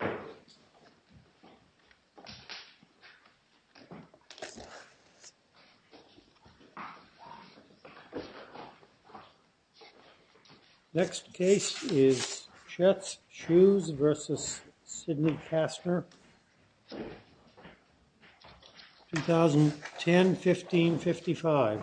2010-15-55 Next case is CHETS SHOES v. SIDNEY KASTNER 2010-15-55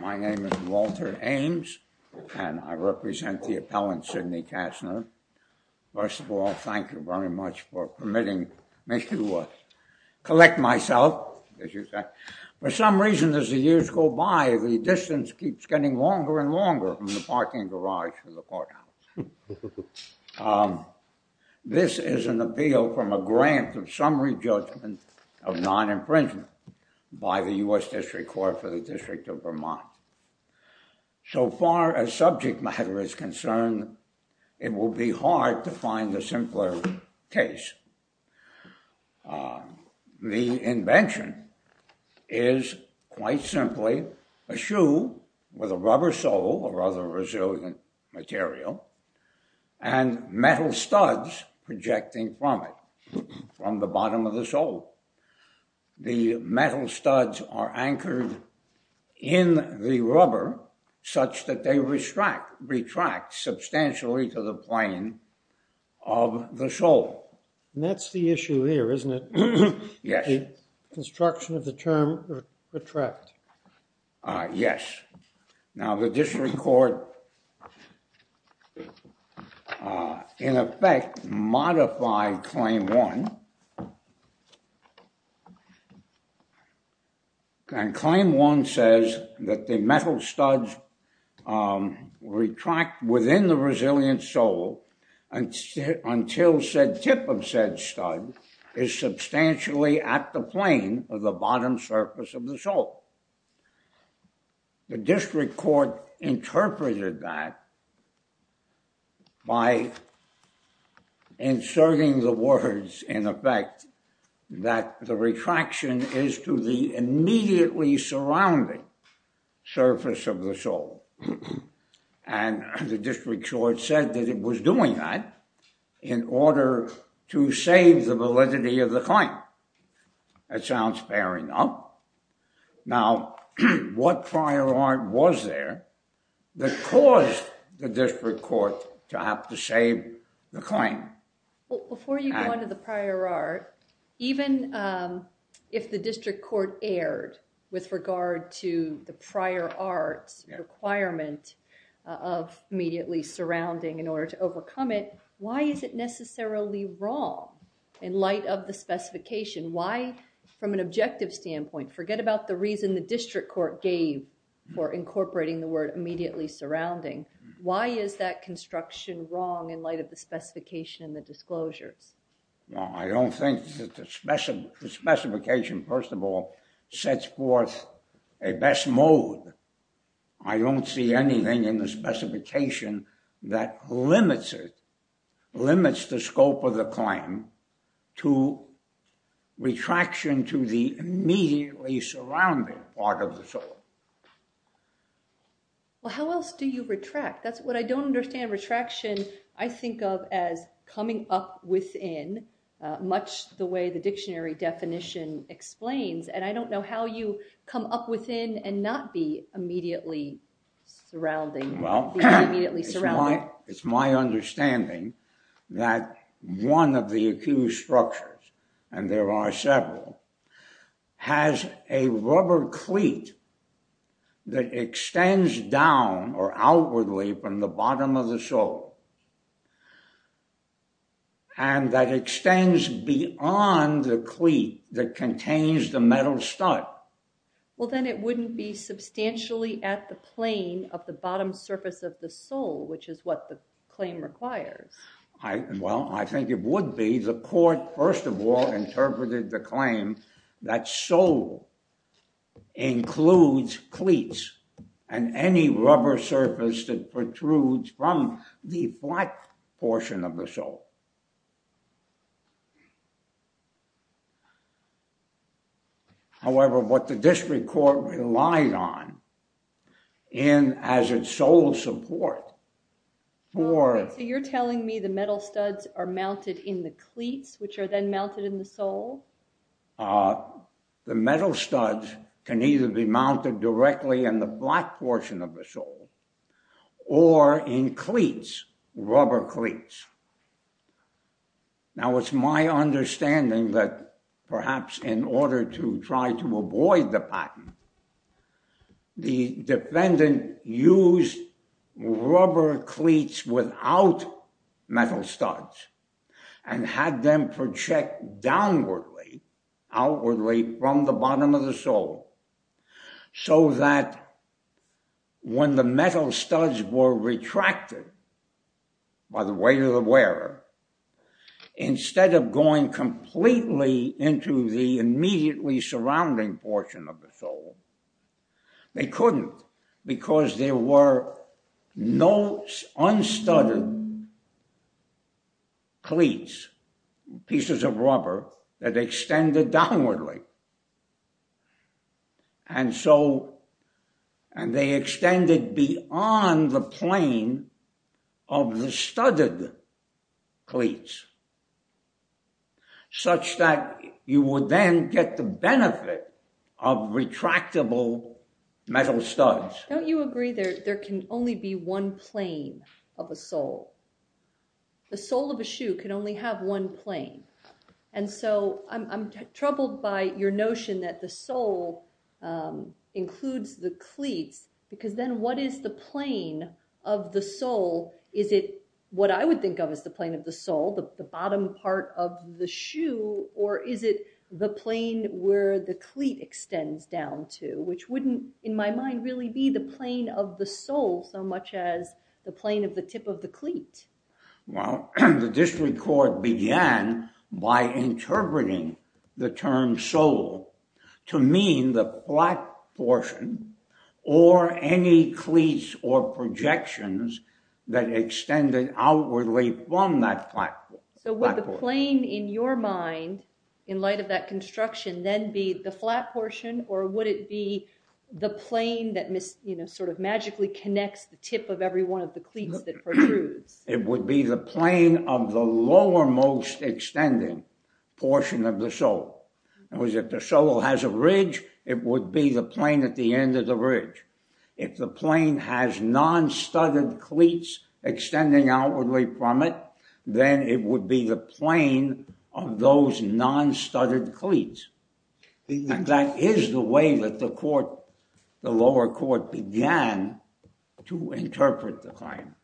My name is WALTER AIMS and I represent the appellant SIDNEY KASTNER. First of all, thank you very much for permitting me to collect myself. For some reason, as the years go by, the distance keeps getting longer and longer from the parking garage to the courthouse. This is an appeal from a grant of summary judgment of non-imprisonment by the U.S. District Court for the District of Vermont. So far as subject matter is concerned, it will be hard to find a simpler case. The invention is quite simply a shoe with a rubber sole, a rather resilient material, and metal studs projecting from it, from the bottom of the sole. The metal studs are anchored in the rubber such that they retract substantially to the plane of the sole. And that's the issue here, isn't it? Yes. The construction of the term retract. Yes. Now, the District Court, in effect, modified Claim 1. And Claim 1 says that the metal studs retract within the resilient sole until said tip of said stud is substantially at the plane of the bottom surface of the sole. The District Court interpreted that by inserting the words, in effect, that the retraction is to the immediately surrounding surface of the sole. And the District Court said that it was doing that in order to save the validity of the claim. That sounds fair enough. Now, what prior art was there that caused the District Court to have to save the claim? Before you go on to the prior art, even if the District Court erred with regard to the prior art's requirement of immediately surrounding in order to overcome it, why is it necessarily wrong in light of the specification? Why, from an objective standpoint, forget about the reason the District Court gave for incorporating the word immediately surrounding. Why is that construction wrong in light of the specification and the disclosures? Well, I don't think that the specification, first of all, sets forth a best mode. I don't see anything in the specification that limits it, limits the scope of the claim to retraction to the immediately surrounding part of the sole. Well, how else do you retract? That's what I don't understand retraction. I think of as coming up within, much the way the dictionary definition explains. And I don't know how you come up within and not be immediately surrounding. Well, it's my understanding that one of the accused structures, and there are several, has a rubber cleat that extends down or outwardly from the bottom of the sole. And that extends beyond the cleat that contains the metal stud. Well, then it wouldn't be substantially at the plane of the bottom surface of the sole, which is what the claim requires. Well, I think it would be the court, first of all, interpreted the claim that sole includes cleats and any rubber surface that protrudes from the flat portion of the sole. However, what the district court relied on in as its sole support for... So you're telling me the metal studs are mounted in the cleats, which are then mounted in the sole? The metal studs can either be mounted directly in the flat portion of the sole or in cleats, rubber cleats. Now, it's my understanding that perhaps in order to try to avoid the patent, the defendant used rubber cleats without metal studs and had them project downwardly, outwardly from the bottom of the sole, so that when the metal studs were retracted by the weight of the wearer, instead of going completely into the immediately surrounding portion of the sole, they couldn't because there were no unstudded cleats, pieces of rubber that extended downwardly. And so they extended beyond the plane of the studded cleats, such that you would then get the benefit of retractable metal studs. Don't you agree that there can only be one plane of a sole? The sole of a shoe can only have one plane. And so I'm troubled by your notion that the sole includes the cleats, because then what is the plane of the sole? Is it what I would think of as the plane of the sole, the bottom part of the shoe, or is it the plane where the cleat extends down to? Which wouldn't, in my mind, really be the plane of the sole so much as the plane of the tip of the cleat. Well, the District Court began by interpreting the term sole to mean the flat portion, or any cleats or projections that extended outwardly from that flat portion. So would the plane in your mind, in light of that construction, then be the flat portion, or would it be the plane that sort of magically connects the tip of every one of the cleats that protrudes? It would be the plane of the lowermost extending portion of the sole. If the sole has a ridge, it would be the plane at the end of the ridge. If the plane has non-studded cleats extending outwardly from it, then it would be the plane of those non-studded cleats. And that is the way that the lower court began to interpret the claim.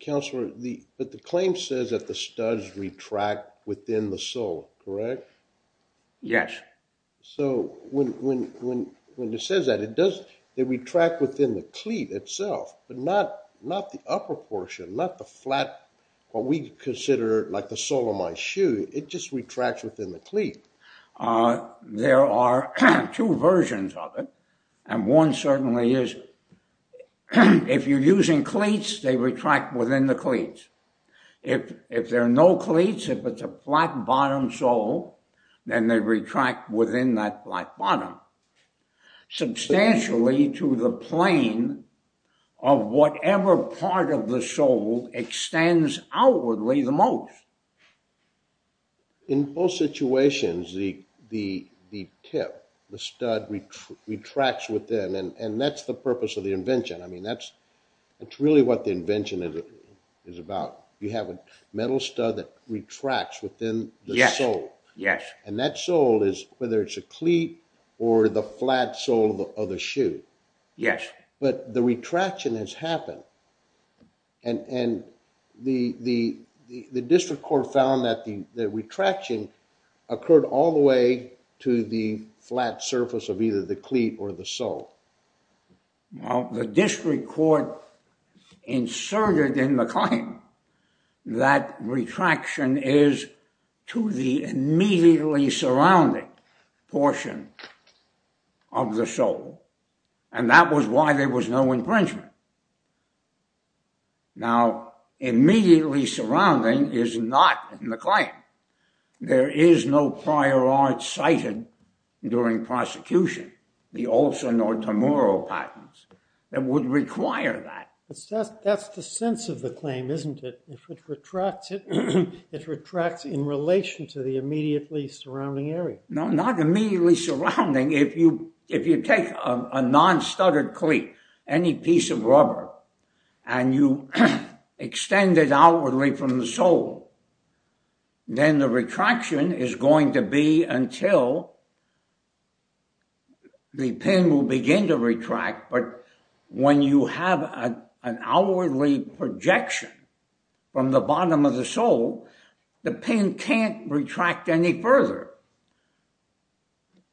Counselor, but the claim says that the studs retract within the sole, correct? Yes. So when it says that, it retracts within the cleat itself, but not the upper portion, not the flat, what we consider like the sole of my shoe, it just retracts within the cleat. There are two versions of it, and one certainly is, if you're using cleats, they retract within the cleats. If there are no cleats, if it's a flat bottom sole, then they retract within that flat bottom, substantially to the plane of whatever part of the sole extends outwardly the most. In most situations, the tip, the stud, retracts within, and that's the purpose of the invention. It's really what the invention is about. You have a metal stud that retracts within the sole. And that sole is, whether it's a cleat or the flat sole of the shoe. But the retraction has happened. And the district court found that the retraction occurred all the way to the flat surface of either the cleat or the sole. Well, the district court inserted in the claim that retraction is to the immediately surrounding portion of the sole. And that was why there was no infringement. Now, immediately surrounding is not in the claim. There is no prior art cited during prosecution, the Olson or Tamuro patents that would require that. That's the sense of the claim, isn't it? It retracts in relation to the immediately surrounding area. No, not immediately surrounding. If you take a non-studded cleat, any piece of rubber, and you extend it outwardly from the sole, then the retraction is going to be until the pin will begin to retract. But when you have an outwardly projection from the bottom of the sole, the pin can't retract any further.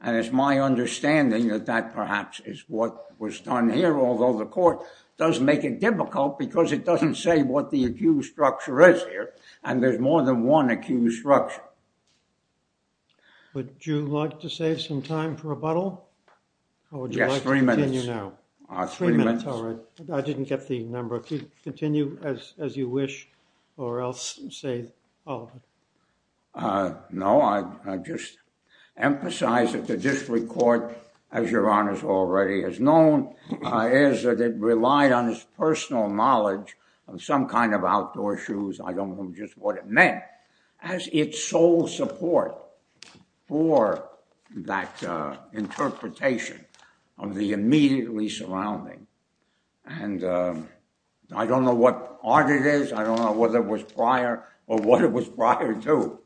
And it's my understanding that that perhaps is what was done here, although the court does make it difficult because it doesn't say what the accused structure is here. And there's more than one accused structure. Would you like to save some time for rebuttal? Yes, three minutes. Three minutes, all right. I didn't get the number. Continue as you wish, or I'll save all of it. No, I just emphasize that the district court, as Your Honor already has known, is that it relied on its personal knowledge of some kind of outdoor shoes. I don't know just what it meant, as its sole support for that interpretation of the immediately surrounding. And I don't know what art it is. I don't know whether it was prior or what it was prior to.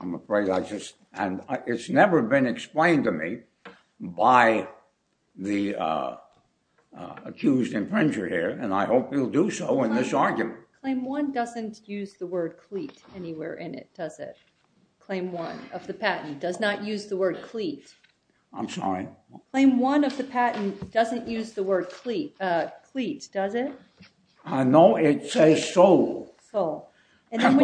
I'm afraid I just... And it's never been explained to me by the accused infringer here, and I hope he'll do so in this argument. Claim one doesn't use the word cleat anywhere in it, does it? Claim one of the patent does not use the word cleat. I'm sorry? Claim one of the patent doesn't use the word cleat, does it? No, it says sole. But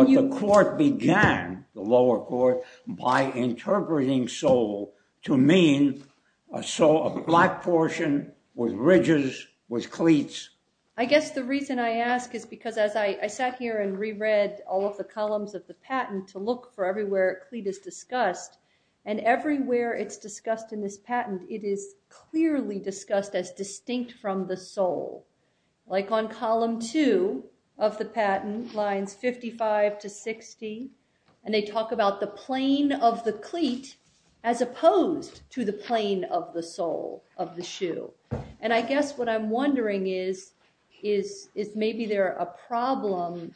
the court began, the lower court, by interpreting sole to mean a sole, a black portion with ridges, with cleats. I guess the reason I ask is because as I sat here and reread all of the columns of the patent to look for everywhere cleat is discussed, and everywhere it's discussed in this patent, it is clearly discussed as distinct from the sole. It's on column two of the patent, lines 55 to 60, and they talk about the plane of the cleat as opposed to the plane of the sole, of the shoe. And I guess what I'm wondering is is maybe there a problem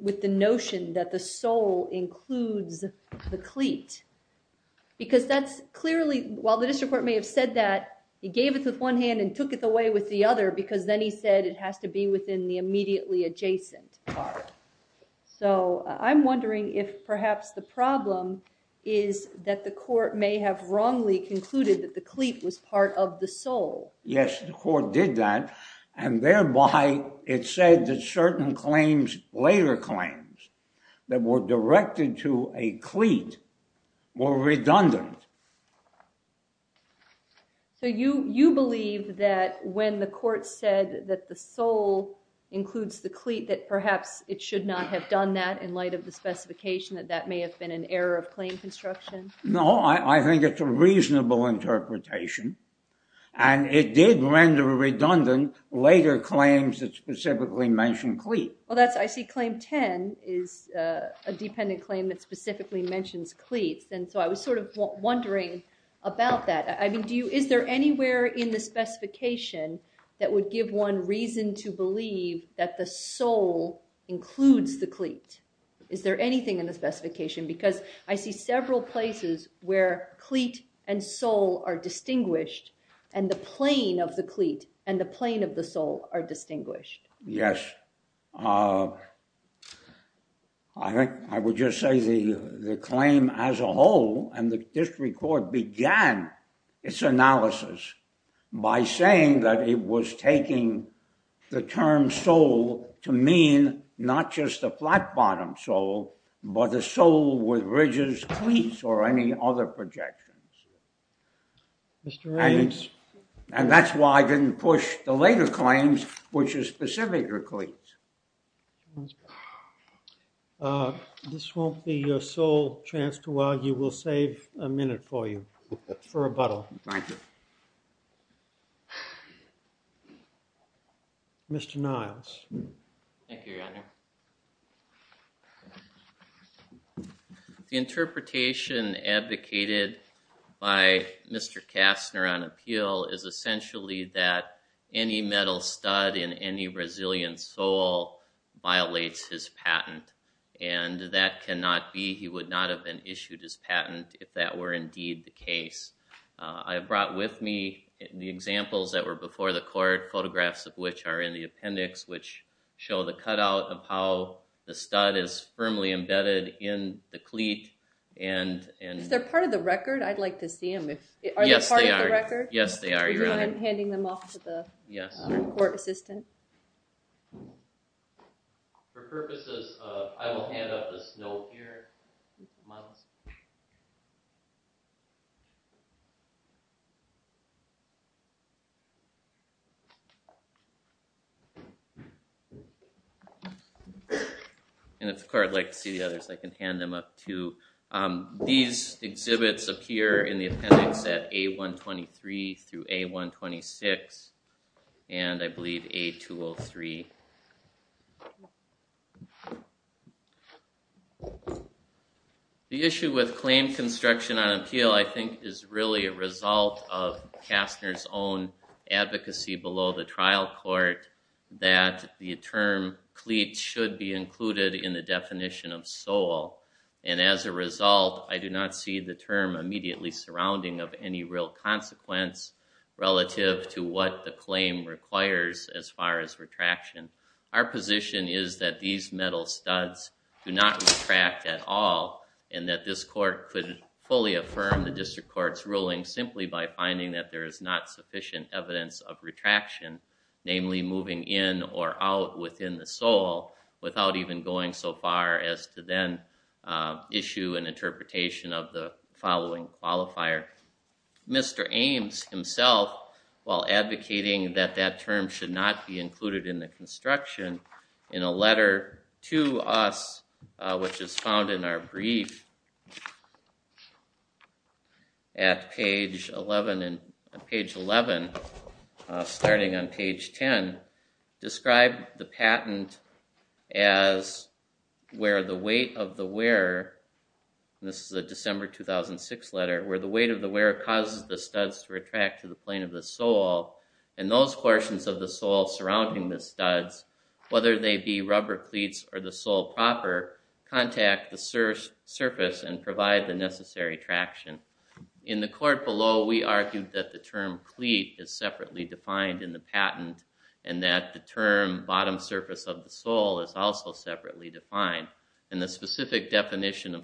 with the notion that the sole includes the cleat. Because that's clearly, while the district court may have said that he gave it with one hand and took it away with the other because then he said it has to be within the immediately adjacent part. So I'm wondering if perhaps the problem is that the court may have wrongly concluded that the cleat was part of the sole. Yes, the court did that, and thereby it said that certain claims, later claims, that were directed to a cleat were redundant. So you believe that when the court said that the sole includes the cleat that perhaps it should not have done that in light of the specification that that may have been an error of claim construction? No, I think it's a reasonable interpretation, and it did render redundant later claims that specifically mentioned cleat. Well, I see claim 10 is a dependent claim that specifically mentions cleats, and so I was sort of wondering about that. I mean, is there anywhere in the specification that would give one reason to believe that the sole includes the cleat? Is there anything in the specification? Because I see several places where cleat and sole are distinguished, and the plane of the cleat and the plane of the sole are distinguished. Yes. I think I would just say the claim as a whole, and the district court began its analysis by saying that it was taking the term sole to mean not just a flat-bottomed sole, but a sole with ridges, cleats, or any other projections. And that's why I didn't push the later claims, which is specific to cleats. Thank you. This won't be your sole chance to argue. We'll save a minute for you for rebuttal. Thank you. Mr. Niles. Thank you, Your Honor. The interpretation advocated by Mr. Kastner on appeal is essentially that any metal stud in any Brazilian sole violates his patent. And that cannot be. He would not have been issued his patent if that were indeed the case. I brought with me the examples that were before the court, photographs of which are in the appendix, which show the cutout of how the stud is firmly embedded in the cleat. Is that part of the record? I'd like to see them. Yes, they are. I'm handing them off to the court assistant. Yes. For purposes of, I will hand up this note here. Miles. And if the court would like to see the others, These exhibits appear in the appendix at A123 through A126, and I believe A203. The issue with claim construction on appeal, I think is really a result of Kastner's own advocacy below the trial court that the term cleat should be included in the definition of sole. And as a result, I do not see the term immediately surrounding it having any real consequence relative to what the claim requires as far as retraction. Our position is that these metal studs do not retract at all, and that this court could fully affirm the district court's ruling simply by finding that there is not sufficient evidence of retraction, namely moving in or out within the sole without even going so far as to then issue an interpretation of the following qualifier. Mr. Ames himself, while advocating that that term should not be included in the construction, in a letter to us, which is found in our brief at page 11, starting on page 10, described the patent as where the weight of the wearer, this is a December 2006 letter, where the weight of the wearer causes the studs to retract to the plane of the sole, and those portions of the sole surrounding the studs, whether they be rubber cleats or the sole proper, contact the surface and provide the necessary traction. In the court below, we argued that the term cleat is separately defined in the patent, and that the term bottom surface of the sole is also separately defined. And the specific definition is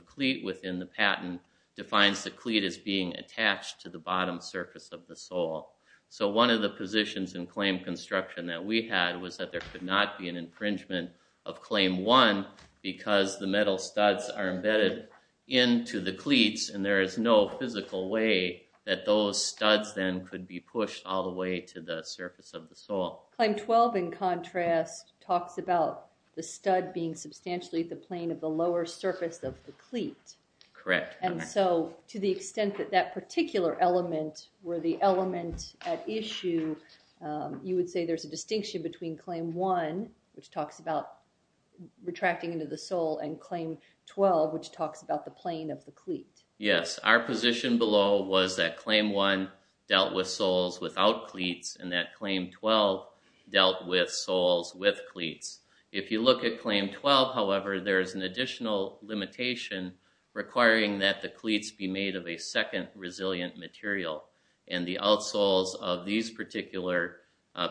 being attached to the bottom surface of the sole. So one of the positions in claim construction that we had was that there could not be an infringement of claim one because the metal studs are embedded into the cleats and there is no physical way that those studs then could be pushed all the way to the surface of the sole. Claim 12, in contrast, talks about the stud being substantially at the plane of the lower surface of the sole. And if you look at that particular element where the element at issue, you would say there's a distinction between claim one, which talks about retracting into the sole, and claim 12, which talks about the plane of the cleat. Yes, our position below was that claim one dealt with soles without cleats and that claim 12 dealt with soles with cleats. If you look at claim 12, it's a second resilient material and the outsoles of these particular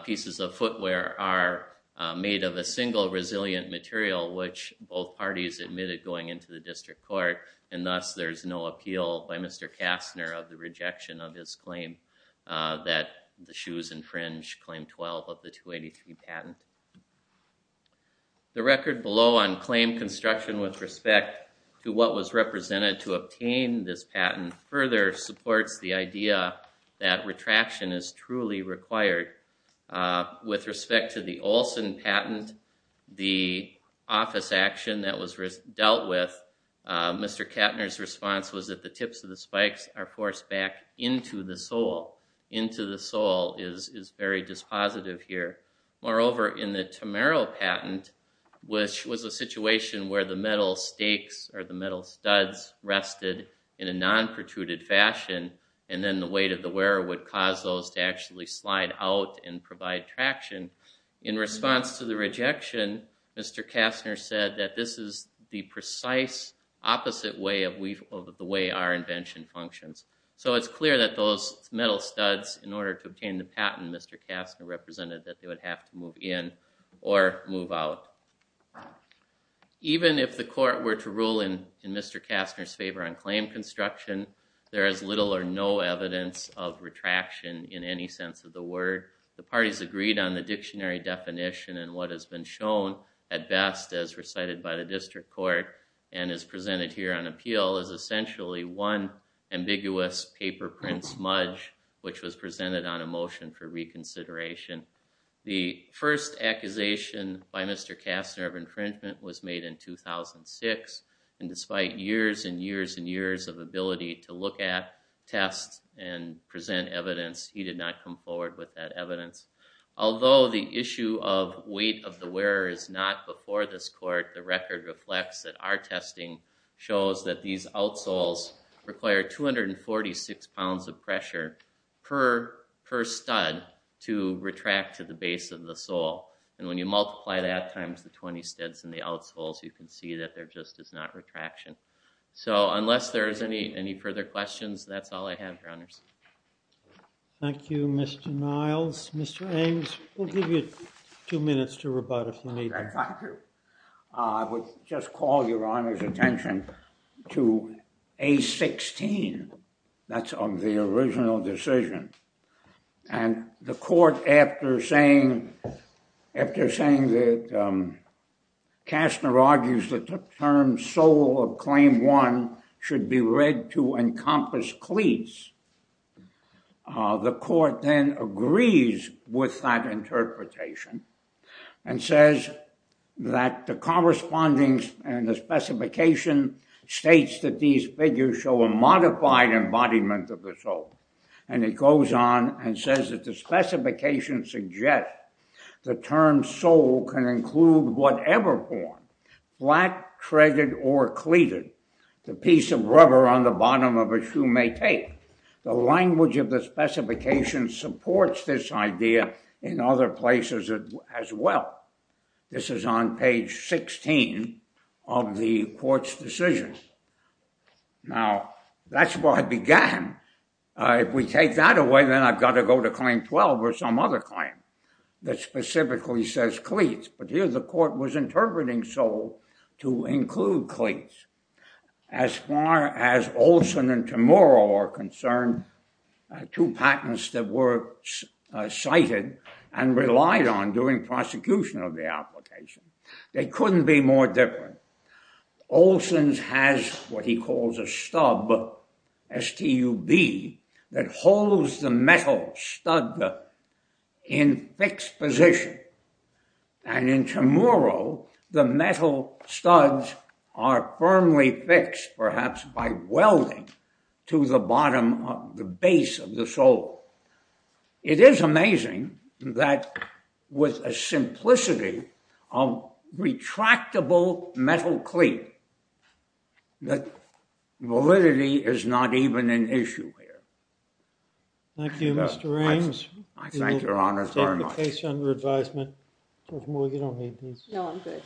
pieces of footwear are made of a single resilient material which both parties admitted going into the district court and thus there's no appeal by Mr. Kastner of the rejection of his claim that the shoes infringe claim 12 of the 283 patent. The record below on claim construction with respect to what was represented to obtain this patent further supports the idea that retraction is truly required. With respect to the Olson patent, the office action that was dealt with, Mr. Kastner's response was that the tips of the spikes are forced back into the sole. Into the sole is very dispositive here. Moreover, in the Tamero patent, which was a situation where the metal stakes or the metal studs rested in a non-protruded fashion and then the weight of the wearer would cause those to actually slide out and provide traction. In response to the rejection, Mr. Kastner said that this is the precise opposite way of the way our invention functions. So it's clear that those metal studs in order to obtain the patent, Mr. Kastner represented that they would have to move in or move out. Even if the court were to rule in Mr. Kastner's favor on claim construction, there is little or no evidence of retraction in any sense of the word. The parties agreed on the dictionary definition and what has been shown at best as recited by the district court and is presented here on appeal is essentially one ambiguous paper print smudge which was presented on a motion for reconsideration. The first accusation by Mr. Kastner of infringement was made in 2006 and despite years and years and years of ability to look at tests and present evidence, he did not come forward with that evidence. Although the issue of weight of the wearer is not before this court, the record reflects that our testing shows that these outsoles require 246 pounds of pressure per stud to retract to the base of the sole and when you multiply that times the 20 studs in the outsoles, you can see that there just is not retraction. So unless there is any further questions, that's all I have, Your Honors. Thank you, Mr. Niles. Mr. Ames, we'll give you two minutes to rebut if you need it. Your Honor's attention to A16. That's on the original decision and the court after saying after saying that Kastner argues that the term sole of claim one should be read to encompass cleats. The court then agrees with that interpretation and says that the corresponding and the specification states that these figures show a modified embodiment of the sole and it goes on and says that the specification suggests the term sole can include whatever form black treaded or cleated. The piece of rubber on the bottom of a shoe may take. The language of the specification supports this idea in other places as well. This is on page 16 of the court's decision. Now, that's where I began. If we take that away, then I've got to go to claim 12 or some other claim that specifically says cleats. But here the court was interpreting sole to include cleats. As far as Olson and Tumoro are concerned, two patents that were cited and relied on during prosecution of the application. They couldn't be more different. Olson's has what he calls a stub STUB that holds the metal stud in fixed position. And in Tumoro the metal studs are firmly fixed perhaps by welding to the bottom of the base of the sole. It is amazing that with a simplicity of retractable metal cleat that validity is not even an issue here. Thank you, Mr. Rames. I thank your Honor very much. We'll take the case under advisement. You don't need these. No, I'm good.